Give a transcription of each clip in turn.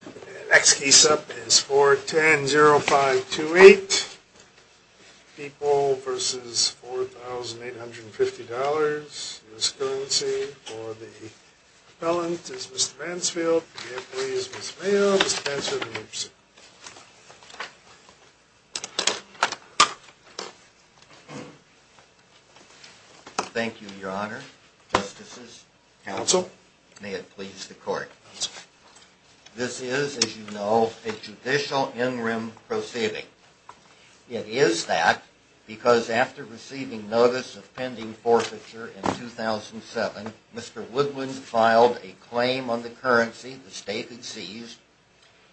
The next case up is 410-0528, People v. Four Thousand Eight Hundred Fifty Dollars US Currency for the Appellant is Mr. Mansfield, for the Appeal is Ms. Mayo, Mr. Mansfield, and Mr. Smith. Thank you, Your Honor, Justices, Counsel, and may it please the Court. This is, as you know, a judicial in-rim proceeding. It is that because after receiving notice of pending forfeiture in 2007, Mr. Woodland filed a claim on the currency the State had seized,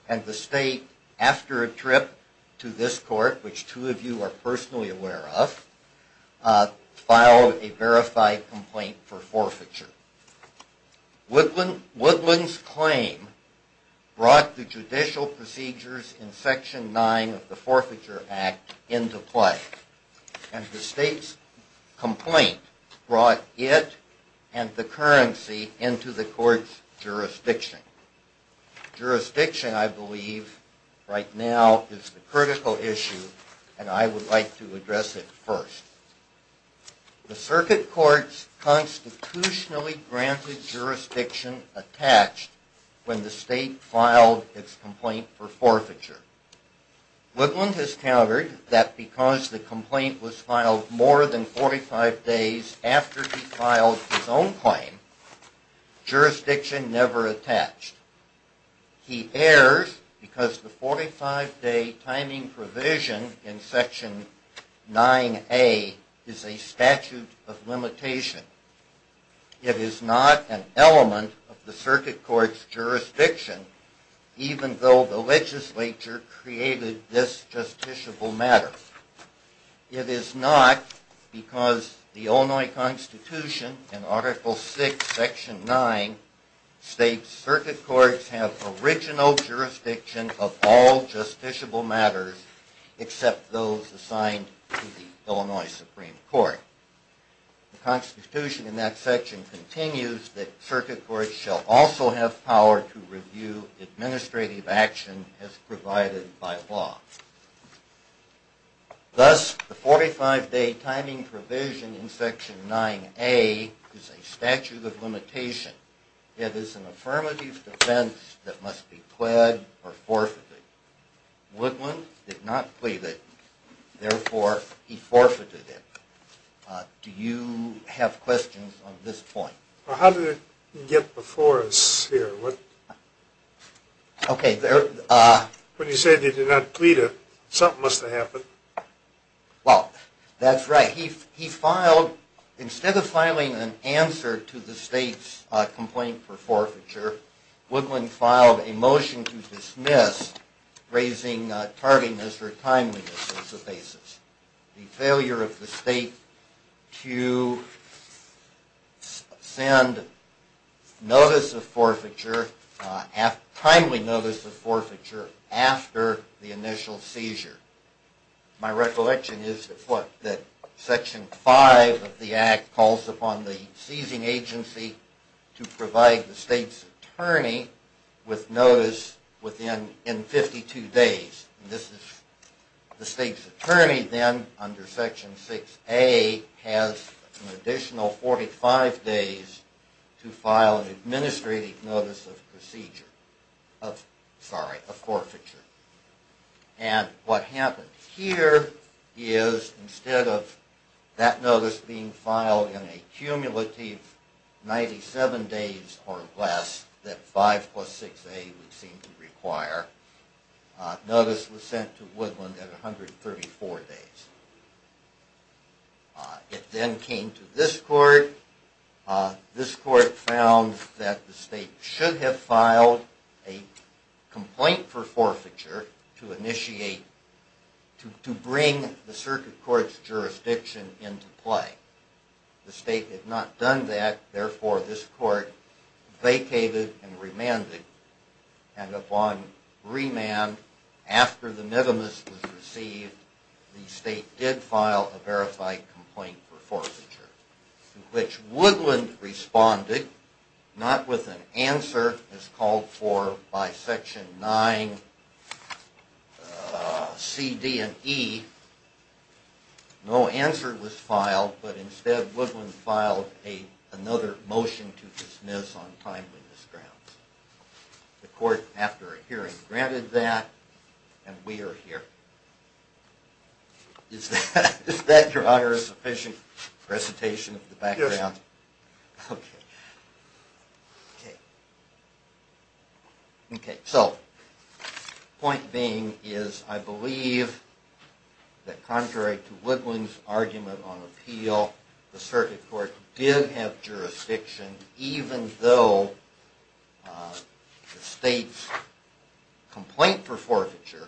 and the State, after a trip to this Court, which two of you are personally aware of, filed a verified complaint for forfeiture. Woodland's claim brought the judicial procedures in Section 9 of the Forfeiture Act into play, and the State's complaint brought it and the currency into the Court's jurisdiction. Jurisdiction, I believe, right now is the critical issue, and I would like to address it first. The Circuit Court's constitutionally granted jurisdiction attached when the State filed its complaint for forfeiture. Woodland has countered that because the complaint was filed more than 45 days after he filed his own claim, jurisdiction never attached. He errs because the 45-day timing provision in Section 9A is a statute of limitation. It is not an element of the Circuit Court's jurisdiction, even though the legislature created this justiciable matter. It is not because the Illinois Constitution in Article VI, Section 9 states Circuit Courts have original jurisdiction of all justiciable matters except those assigned to the Illinois Supreme Court. The Constitution in that section continues that Circuit Courts shall also have power to review administrative action as provided by law. Thus, the 45-day timing provision in Section 9A is a statute of limitation. It is an affirmative defense that must be pled or forfeited. Woodland did not plead it, therefore he forfeited it. Do you have questions on this point? Well, how did it get before us here? When you said he did not plead it, something must have happened. Well, that's right. Instead of filing an answer to the state's complaint for forfeiture, Woodland filed a motion to dismiss raising tardiness or timeliness as the basis. The failure of the state to send timely notice of forfeiture after the initial seizure. My recollection is that Section 5 of the Act calls upon the seizing agency to provide the state's attorney with notice in 52 days. The state's attorney then, under Section 6A, has an additional 45 days to file an administrative notice of forfeiture. And what happened here is instead of that notice being filed in a cumulative 97 days or less that 5 plus 6A would seem to require, notice was sent to Woodland at 134 days. It then came to this court. This court found that the state should have filed a complaint for forfeiture to initiate, to bring the circuit court's jurisdiction into play. The state had not done that, therefore this court vacated and remanded. And upon remand, after the minimus was received, the state did file a verified complaint for forfeiture. In which Woodland responded, not with an answer as called for by Section 9, C, D, and E. No answer was filed, but instead Woodland filed another motion to dismiss on timeliness grounds. The court, after a hearing, granted that, and we are here. Is that, Your Honor, a sufficient presentation of the background? Yes. Okay. Okay. Okay. So, point being is I believe that contrary to Woodland's argument on appeal, the circuit court did have jurisdiction even though the state's complaint for forfeiture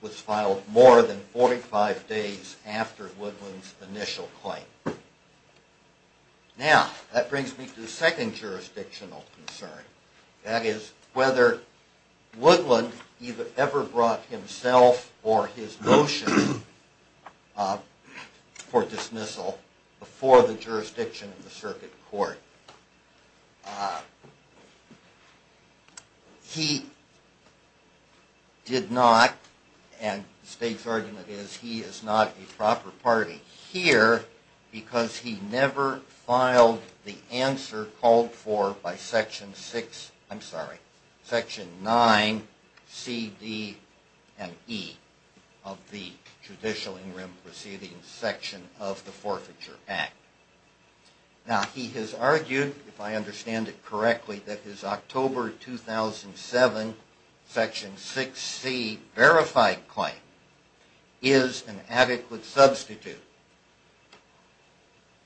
was filed more than 45 days after Woodland's initial claim. Now, that brings me to the second jurisdictional concern. That is whether Woodland ever brought himself or his motion for dismissal before the jurisdiction of the circuit court. He did not, and the state's argument is he is not a proper party here because he never filed the answer called for by Section 6, I'm sorry, Section 9, C, D, and E of the Judicial In Rim Proceedings Section of the Forfeiture Act. Now, he has argued, if I understand it correctly, that his October 2007 Section 6, C verified claim is an adequate substitute.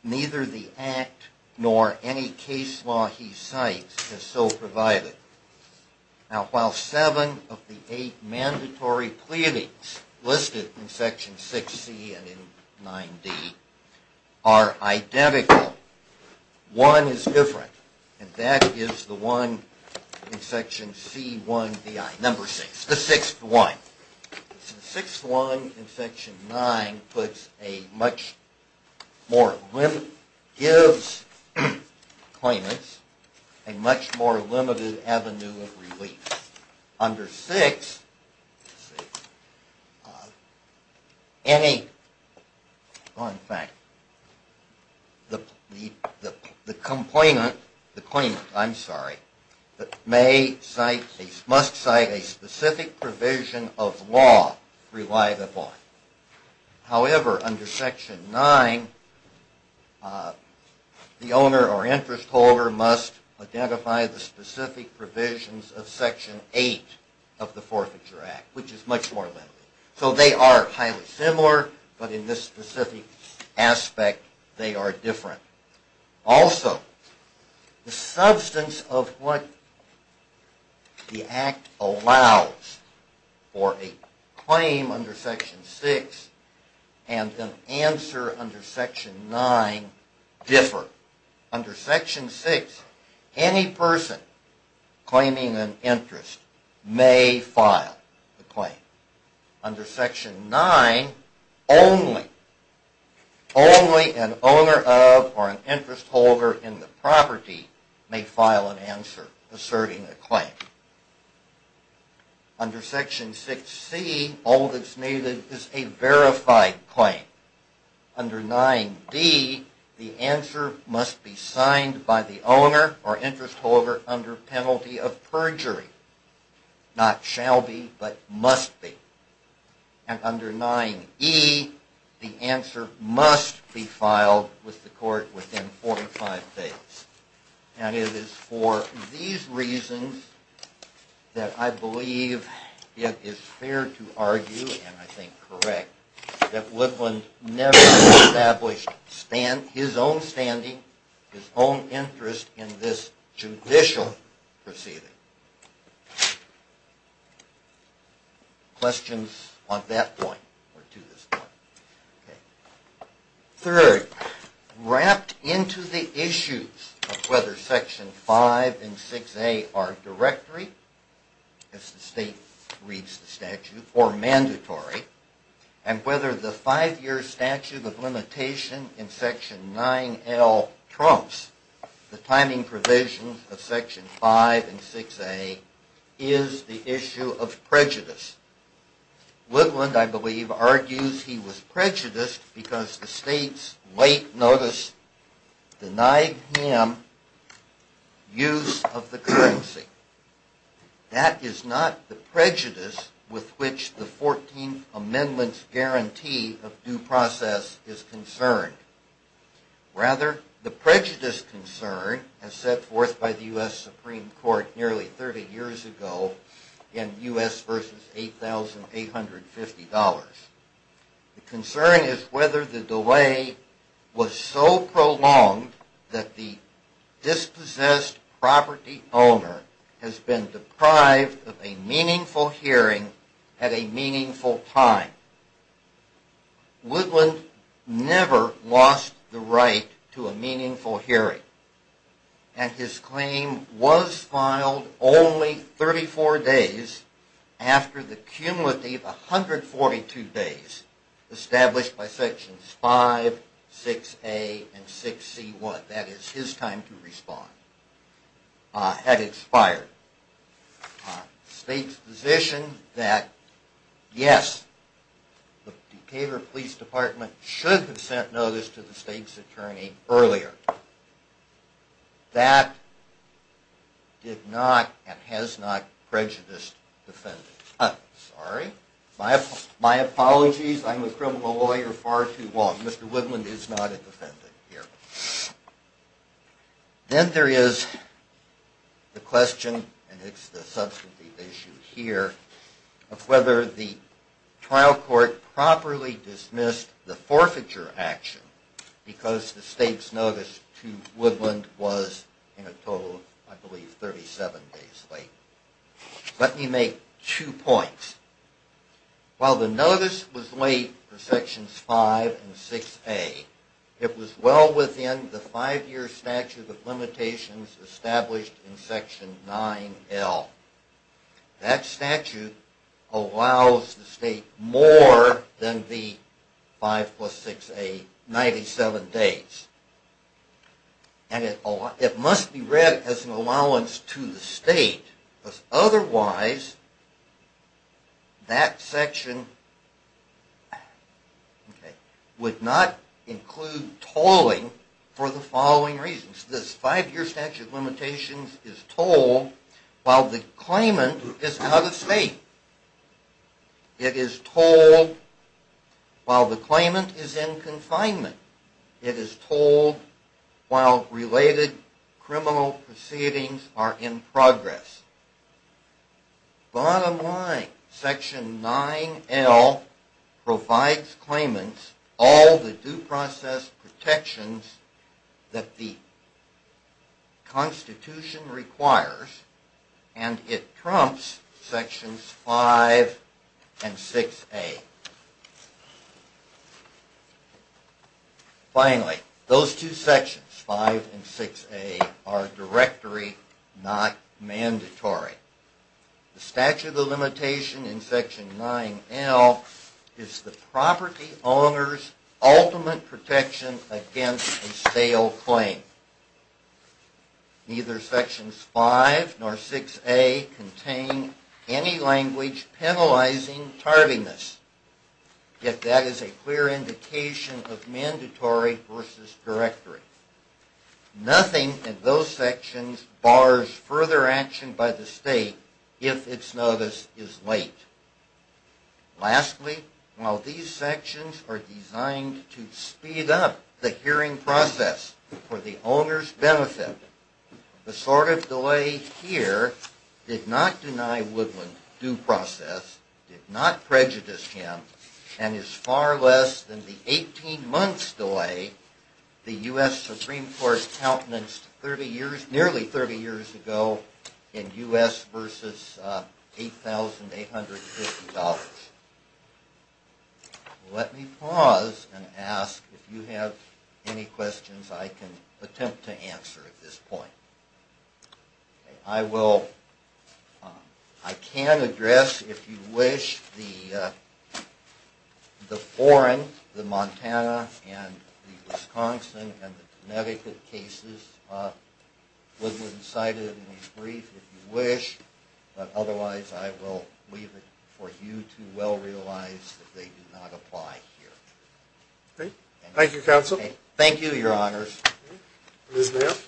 Neither the Act nor any case law he cites is so provided. Now, while seven of the eight mandatory pleadings listed in Section 6, C and in 9, D are identical, one is different, and that is the one in Section 6, 1. Section 6, 1 in Section 9 gives claimants a much more limited avenue of relief. Under 6, any, wrong thing, the complainant, the claimant, I'm sorry, may cite, must cite a specific provision of law relied upon. However, under Section 9, the owner or interest holder must identify the specific provisions of Section 8 of the Forfeiture Act, which is much more limited. So they are highly similar, but in this specific aspect they are different. Also, the substance of what the Act allows for a claim under Section 6 and an answer under Section 9 differ. Under Section 6, any person claiming an interest may file a claim. Under Section 9, only, only an owner of or an interest holder in the property may file an answer asserting a claim. Under Section 6, C, all that's needed is a verified claim. Under 9, D, the answer must be signed by the owner or interest holder under penalty of perjury. Not shall be, but must be. And under 9, E, the answer must be filed with the court within four to five days. And it is for these reasons that I believe it is fair to argue, and I think correct, that Woodland never established his own standing, his own interest in this judicial proceeding. Third, wrapped into the issues of whether Section 5 and 6A are directory, as the state reads the statute, or mandatory, and whether the five-year statute of limitation in Section 9L trumps the timing provisions of Section 5 and 6A, is the issue of prejudice. Woodland, I believe, argues he was prejudiced because the state's late notice denied him use of the currency. That is not the prejudice with which the Fourteenth Amendment's guarantee of due process is concerned. Rather, the prejudice concern as set forth by the U.S. Supreme Court nearly 30 years ago in U.S. v. $8,850. The concern is whether the delay was so prolonged that the dispossessed property owner has been deprived of a meaningful hearing at a meaningful time. Woodland never lost the right to a meaningful hearing, and his claim was filed only 34 days after the cumulative 142 days established by Sections 5, 6A, and 6C1. That is his time to respond had expired. The state's position that, yes, the Decatur Police Department should have sent notice to the state's attorney earlier. That did not, and has not, prejudiced the defendant. I'm sorry. My apologies. I'm a criminal lawyer far too long. Mr. Woodland is not a defendant here. Then there is the question, and it's the substantive issue here, of whether the trial court properly dismissed the forfeiture action because the state's notice to Woodland was in a total of, I believe, 37 days late. Let me make two points. While the notice was late for Sections 5 and 6A, it was well within the five-year statute of limitations established in Section 9L. That statute allows the state more than the 5 plus 6A, 97 days. And it must be read as an allowance to the state, because otherwise that section would not include tolling for the following reasons. This five-year statute of limitations is tolled while the claimant is out of state. It is tolled while the claimant is in confinement. It is tolled while related criminal proceedings are in progress. Bottom line, Section 9L provides claimants all the due process protections that the Constitution requires, and it trumps Sections 5 and 6A. Finally, those two sections, 5 and 6A, are directory, not mandatory. The statute of limitation in Section 9L is the property owner's ultimate protection against a stale claim. Neither Sections 5 nor 6A contain any language penalizing tardiness, yet that is a clear indication of mandatory versus directory. Nothing in those sections bars further action by the state if its notice is late. Lastly, while these sections are designed to speed up the hearing process for the owner's benefit, the sort of delay here did not deny Woodland due process, did not prejudice him, and is far less than the 18 months delay the U.S. Supreme Court countenanced nearly 30 years ago in U.S. v. 8800. Let me pause and ask if you have any questions I can attempt to answer at this point. I will, I can address, if you wish, the foreign, the Montana and the Wisconsin and the Connecticut cases, Woodland cited in his brief, if you wish, but otherwise I will leave it for you to well realize that they do not apply here. Thank you, Counsel. Thank you, Your Honors. Ms. Mayer. Thank you, Your Honor. May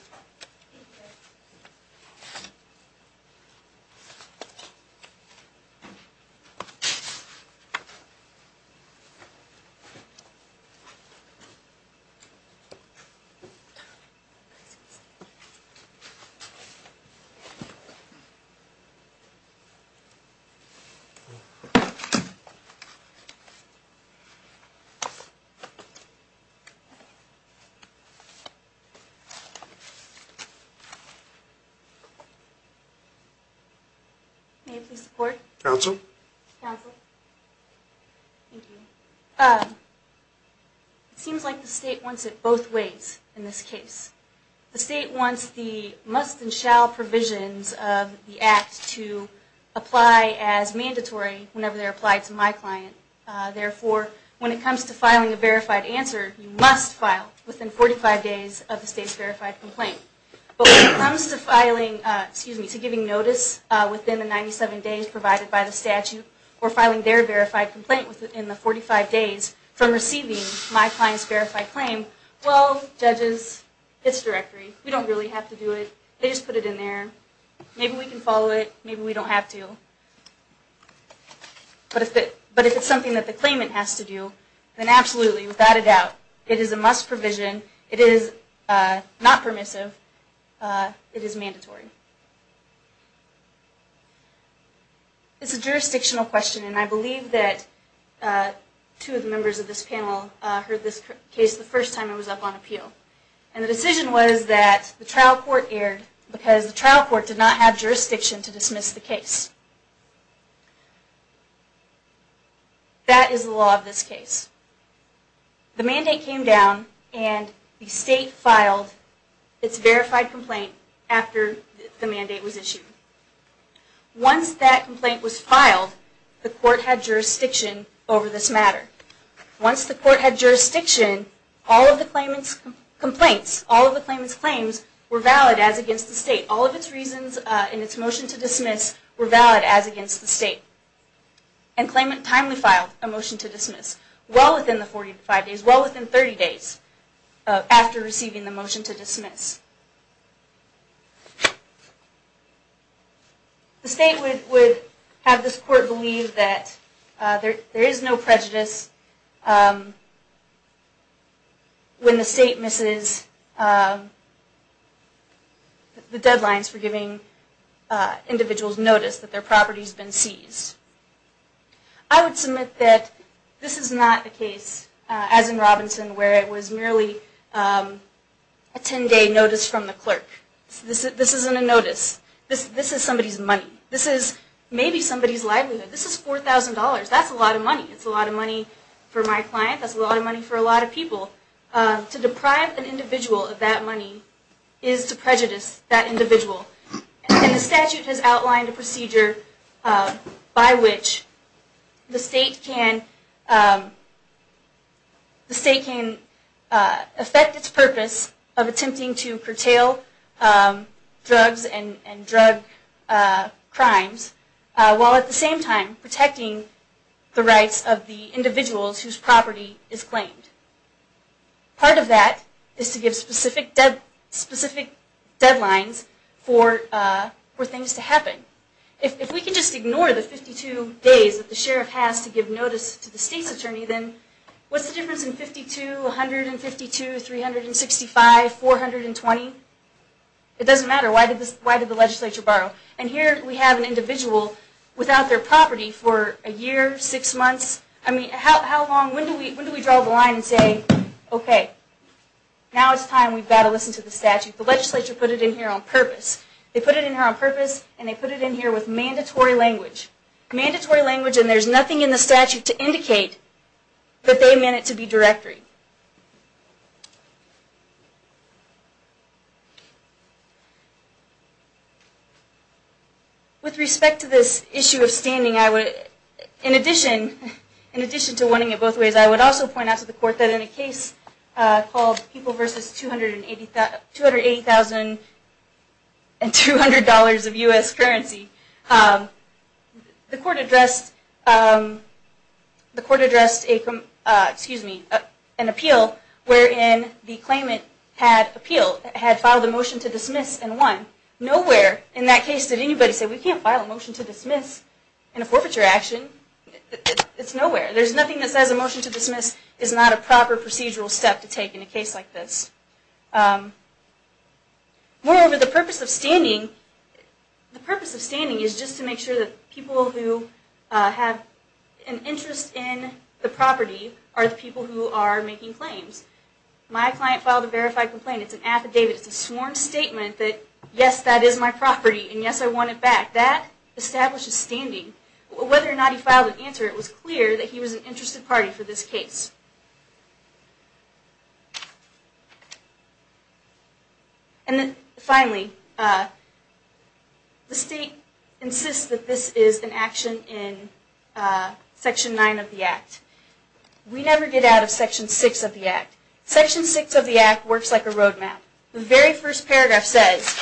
I please have the court? Counsel. Counsel. Thank you. It seems like the state wants it both ways in this case. The state wants the must and shall provisions of the act to apply as mandatory whenever they're applied to my client. Therefore, when it comes to filing a verified answer, you must file within 45 days of the state's verified complaint. But when it comes to filing, excuse me, to giving notice within the 97 days provided by the statute or filing their verified complaint within the 45 days from receiving my client's directory, we don't really have to do it. They just put it in there. Maybe we can follow it. Maybe we don't have to. But if it's something that the claimant has to do, then absolutely, without a doubt, it is a must provision. It is not permissive. It is mandatory. It's a jurisdictional question, and I believe that two of the members of this panel heard this case the first time it was up on appeal. And the decision was that the trial court erred because the trial court did not have jurisdiction to dismiss the case. That is the law of this case. The mandate came down, and the state filed its verified complaint after the mandate was issued. Once that complaint was filed, the court had jurisdiction over this matter. Once the court had jurisdiction, all of the claimant's complaints, all of the claimant's claims, were valid as against the state. All of its reasons in its motion to dismiss were valid as against the state. And claimant timely filed a motion to dismiss well within the 45 days, well within 30 days after receiving the motion to dismiss. The state would have this court believe that there is no prejudice when the state misses the deadlines for giving individuals notice that their property has been seized. I would submit that this is not the case, as in Robinson, where it was merely a 10-day notice from the clerk. This isn't a notice. This is somebody's money. This is maybe somebody's livelihood. This is $4,000. That's a lot of money. That's a lot of money for my client. That's a lot of money for a lot of people. To deprive an individual of that money is to prejudice that individual. And the statute has outlined a procedure by which the state can affect its purpose of attempting to curtail drugs and drug crimes, while at the same time protecting the rights of the individuals whose property is claimed. Part of that is to give specific deadlines for things to happen. If we can just ignore the 52 days that the sheriff has to give notice to the state's It doesn't matter. Why did the legislature borrow? And here we have an individual without their property for a year, six months. I mean, how long? When do we draw the line and say, OK, now it's time we've got to listen to the statute? The legislature put it in here on purpose. They put it in here on purpose, and they put it in here with mandatory language. Mandatory language, and there's nothing in the statute to indicate that they meant it to be directory. With respect to this issue of standing, in addition to wanting it both ways, I would also point out to the court that in a case called People v. $280,200 of U.S. currency, the court addressed an appeal wherein the claimant had filed a motion to dismiss and won. Nowhere in that case did anybody say, we can't file a motion to dismiss in a forfeiture action. It's nowhere. There's nothing that says a motion to dismiss is not a proper procedural step to take in a case like this. Moreover, the purpose of standing is just to make sure that people who have an interest in the property are the people who are making claims. My client filed a verified complaint. It's an affidavit. It's a sworn statement that, yes, that is my property, and yes, I want it back. That establishes standing. Whether or not he filed an answer, it was clear that he was an interested party for this case. And then finally, the state insists that this is an action in Section 9 of the Act. We never get out of Section 6 of the Act. Section 6 of the Act works like a roadmap. The very first paragraph says,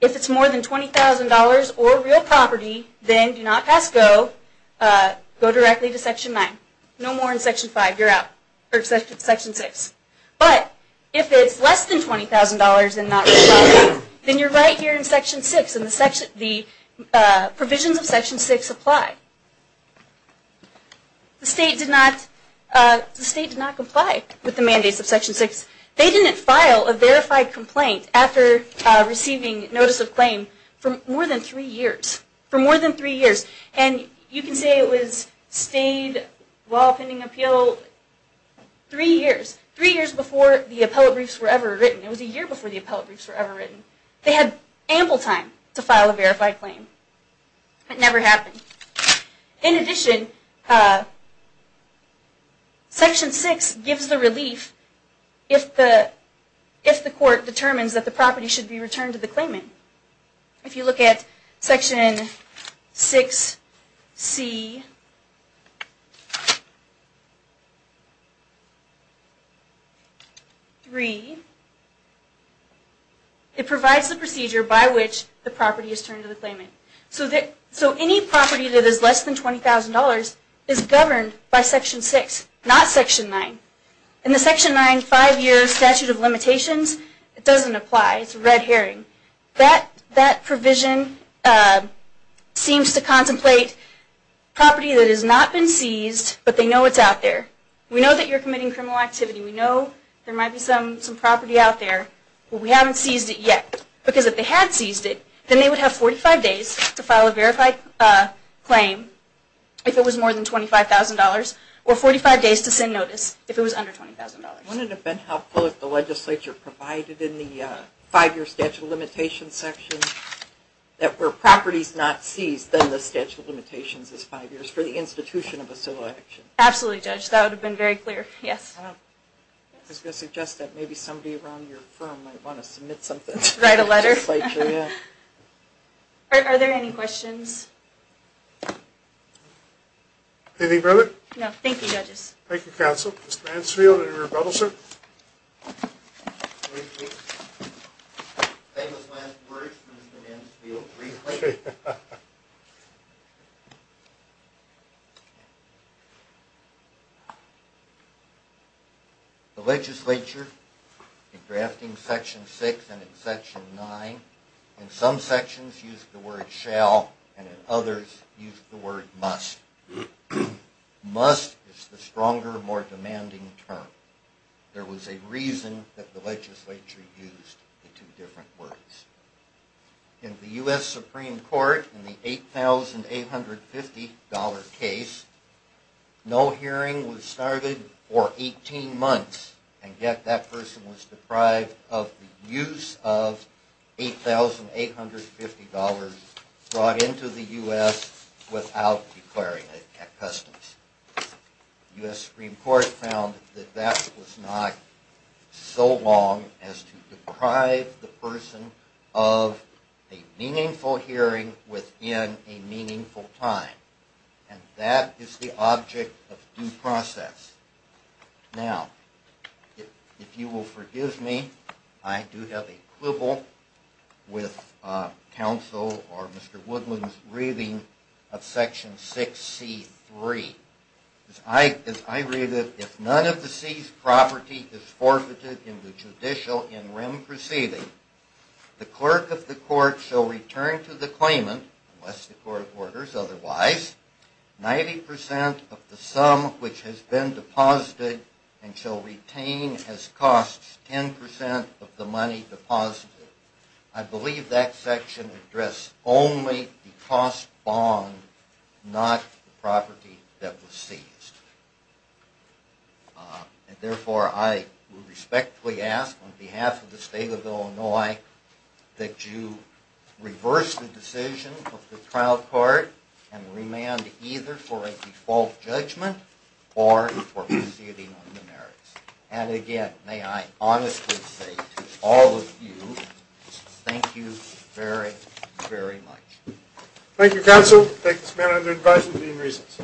if it's more than $20,000 or real property, then do not pass go. Go directly to Section 9. No more in Section 5. You're out. Or Section 6. But if it's less than $20,000 and not real property, then you're right here in Section 6, and the provisions of Section 6 apply. The state did not comply with the mandates of Section 6. They didn't file a verified complaint after receiving notice of claim for more than three years. For more than three years. And you can say it was stayed while pending appeal three years. Three years before the appellate briefs were ever written. It was a year before the appellate briefs were ever written. They had ample time to file a verified claim. It never happened. In addition, Section 6 gives the relief if the court determines that the property should be returned to the claimant. If you look at Section 6C3, it provides the procedure by which the property is returned to the claimant. So any property that is less than $20,000 is governed by Section 6, not Section 9. In the Section 9 five-year statute of limitations, it doesn't apply. It's a red herring. That provision seems to contemplate property that has not been seized, but they know it's out there. We know that you're committing criminal activity. We know there might be some property out there, but we haven't seized it yet. Because if they had seized it, then they would have 45 days to file a verified claim if it was more than $25,000, or 45 days to send notice if it was under $20,000. Wouldn't it have been helpful if the legislature provided in the five-year statute of limitations section that were properties not seized, then the statute of limitations is five years for the institution of a civil action? Absolutely, Judge. That would have been very clear. Yes. I was going to suggest that maybe somebody around your firm might want to submit something to the legislature. Write a letter. Yeah. Are there any questions? Anything further? No. Thank you, Judges. Thank you, Counsel. Mr. Mansfield, any rebuttals, sir? The legislature, in drafting section six and in section nine, in some sections used the word shall, and in others used the word must. Must is the stronger, more demanding term. There was a reason that the legislature used the two different words. In the U.S. Supreme Court, in the $8,850 case, no hearing was started for 18 months, and yet that person was deprived of the use of $8,850 brought into the U.S. without declaring it at customs. The U.S. Supreme Court found that that was not so long as to deprive the person of a meaningful hearing within a meaningful time, and that is the object of due process. Now, if you will forgive me, I do have a quibble with Counsel or Mr. Woodland's reading of section 6C3. As I read it, if none of the seized property is forfeited in the judicial in rem proceeding, the clerk of the court shall return to the claimant, unless the court orders otherwise, 90% of the sum which has been deposited and shall retain as costs 10% of the money deposited. I believe that section addressed only the cost bond, not the property that was seized. And therefore, I respectfully ask on behalf of the State of Illinois that you reverse the decision of the trial court and remand either for a default judgment or for proceeding on the merits. And again, may I honestly say to all of you, thank you very, very much. Thank you, Counsel. I take this matter under advice of the Dean of Reasons.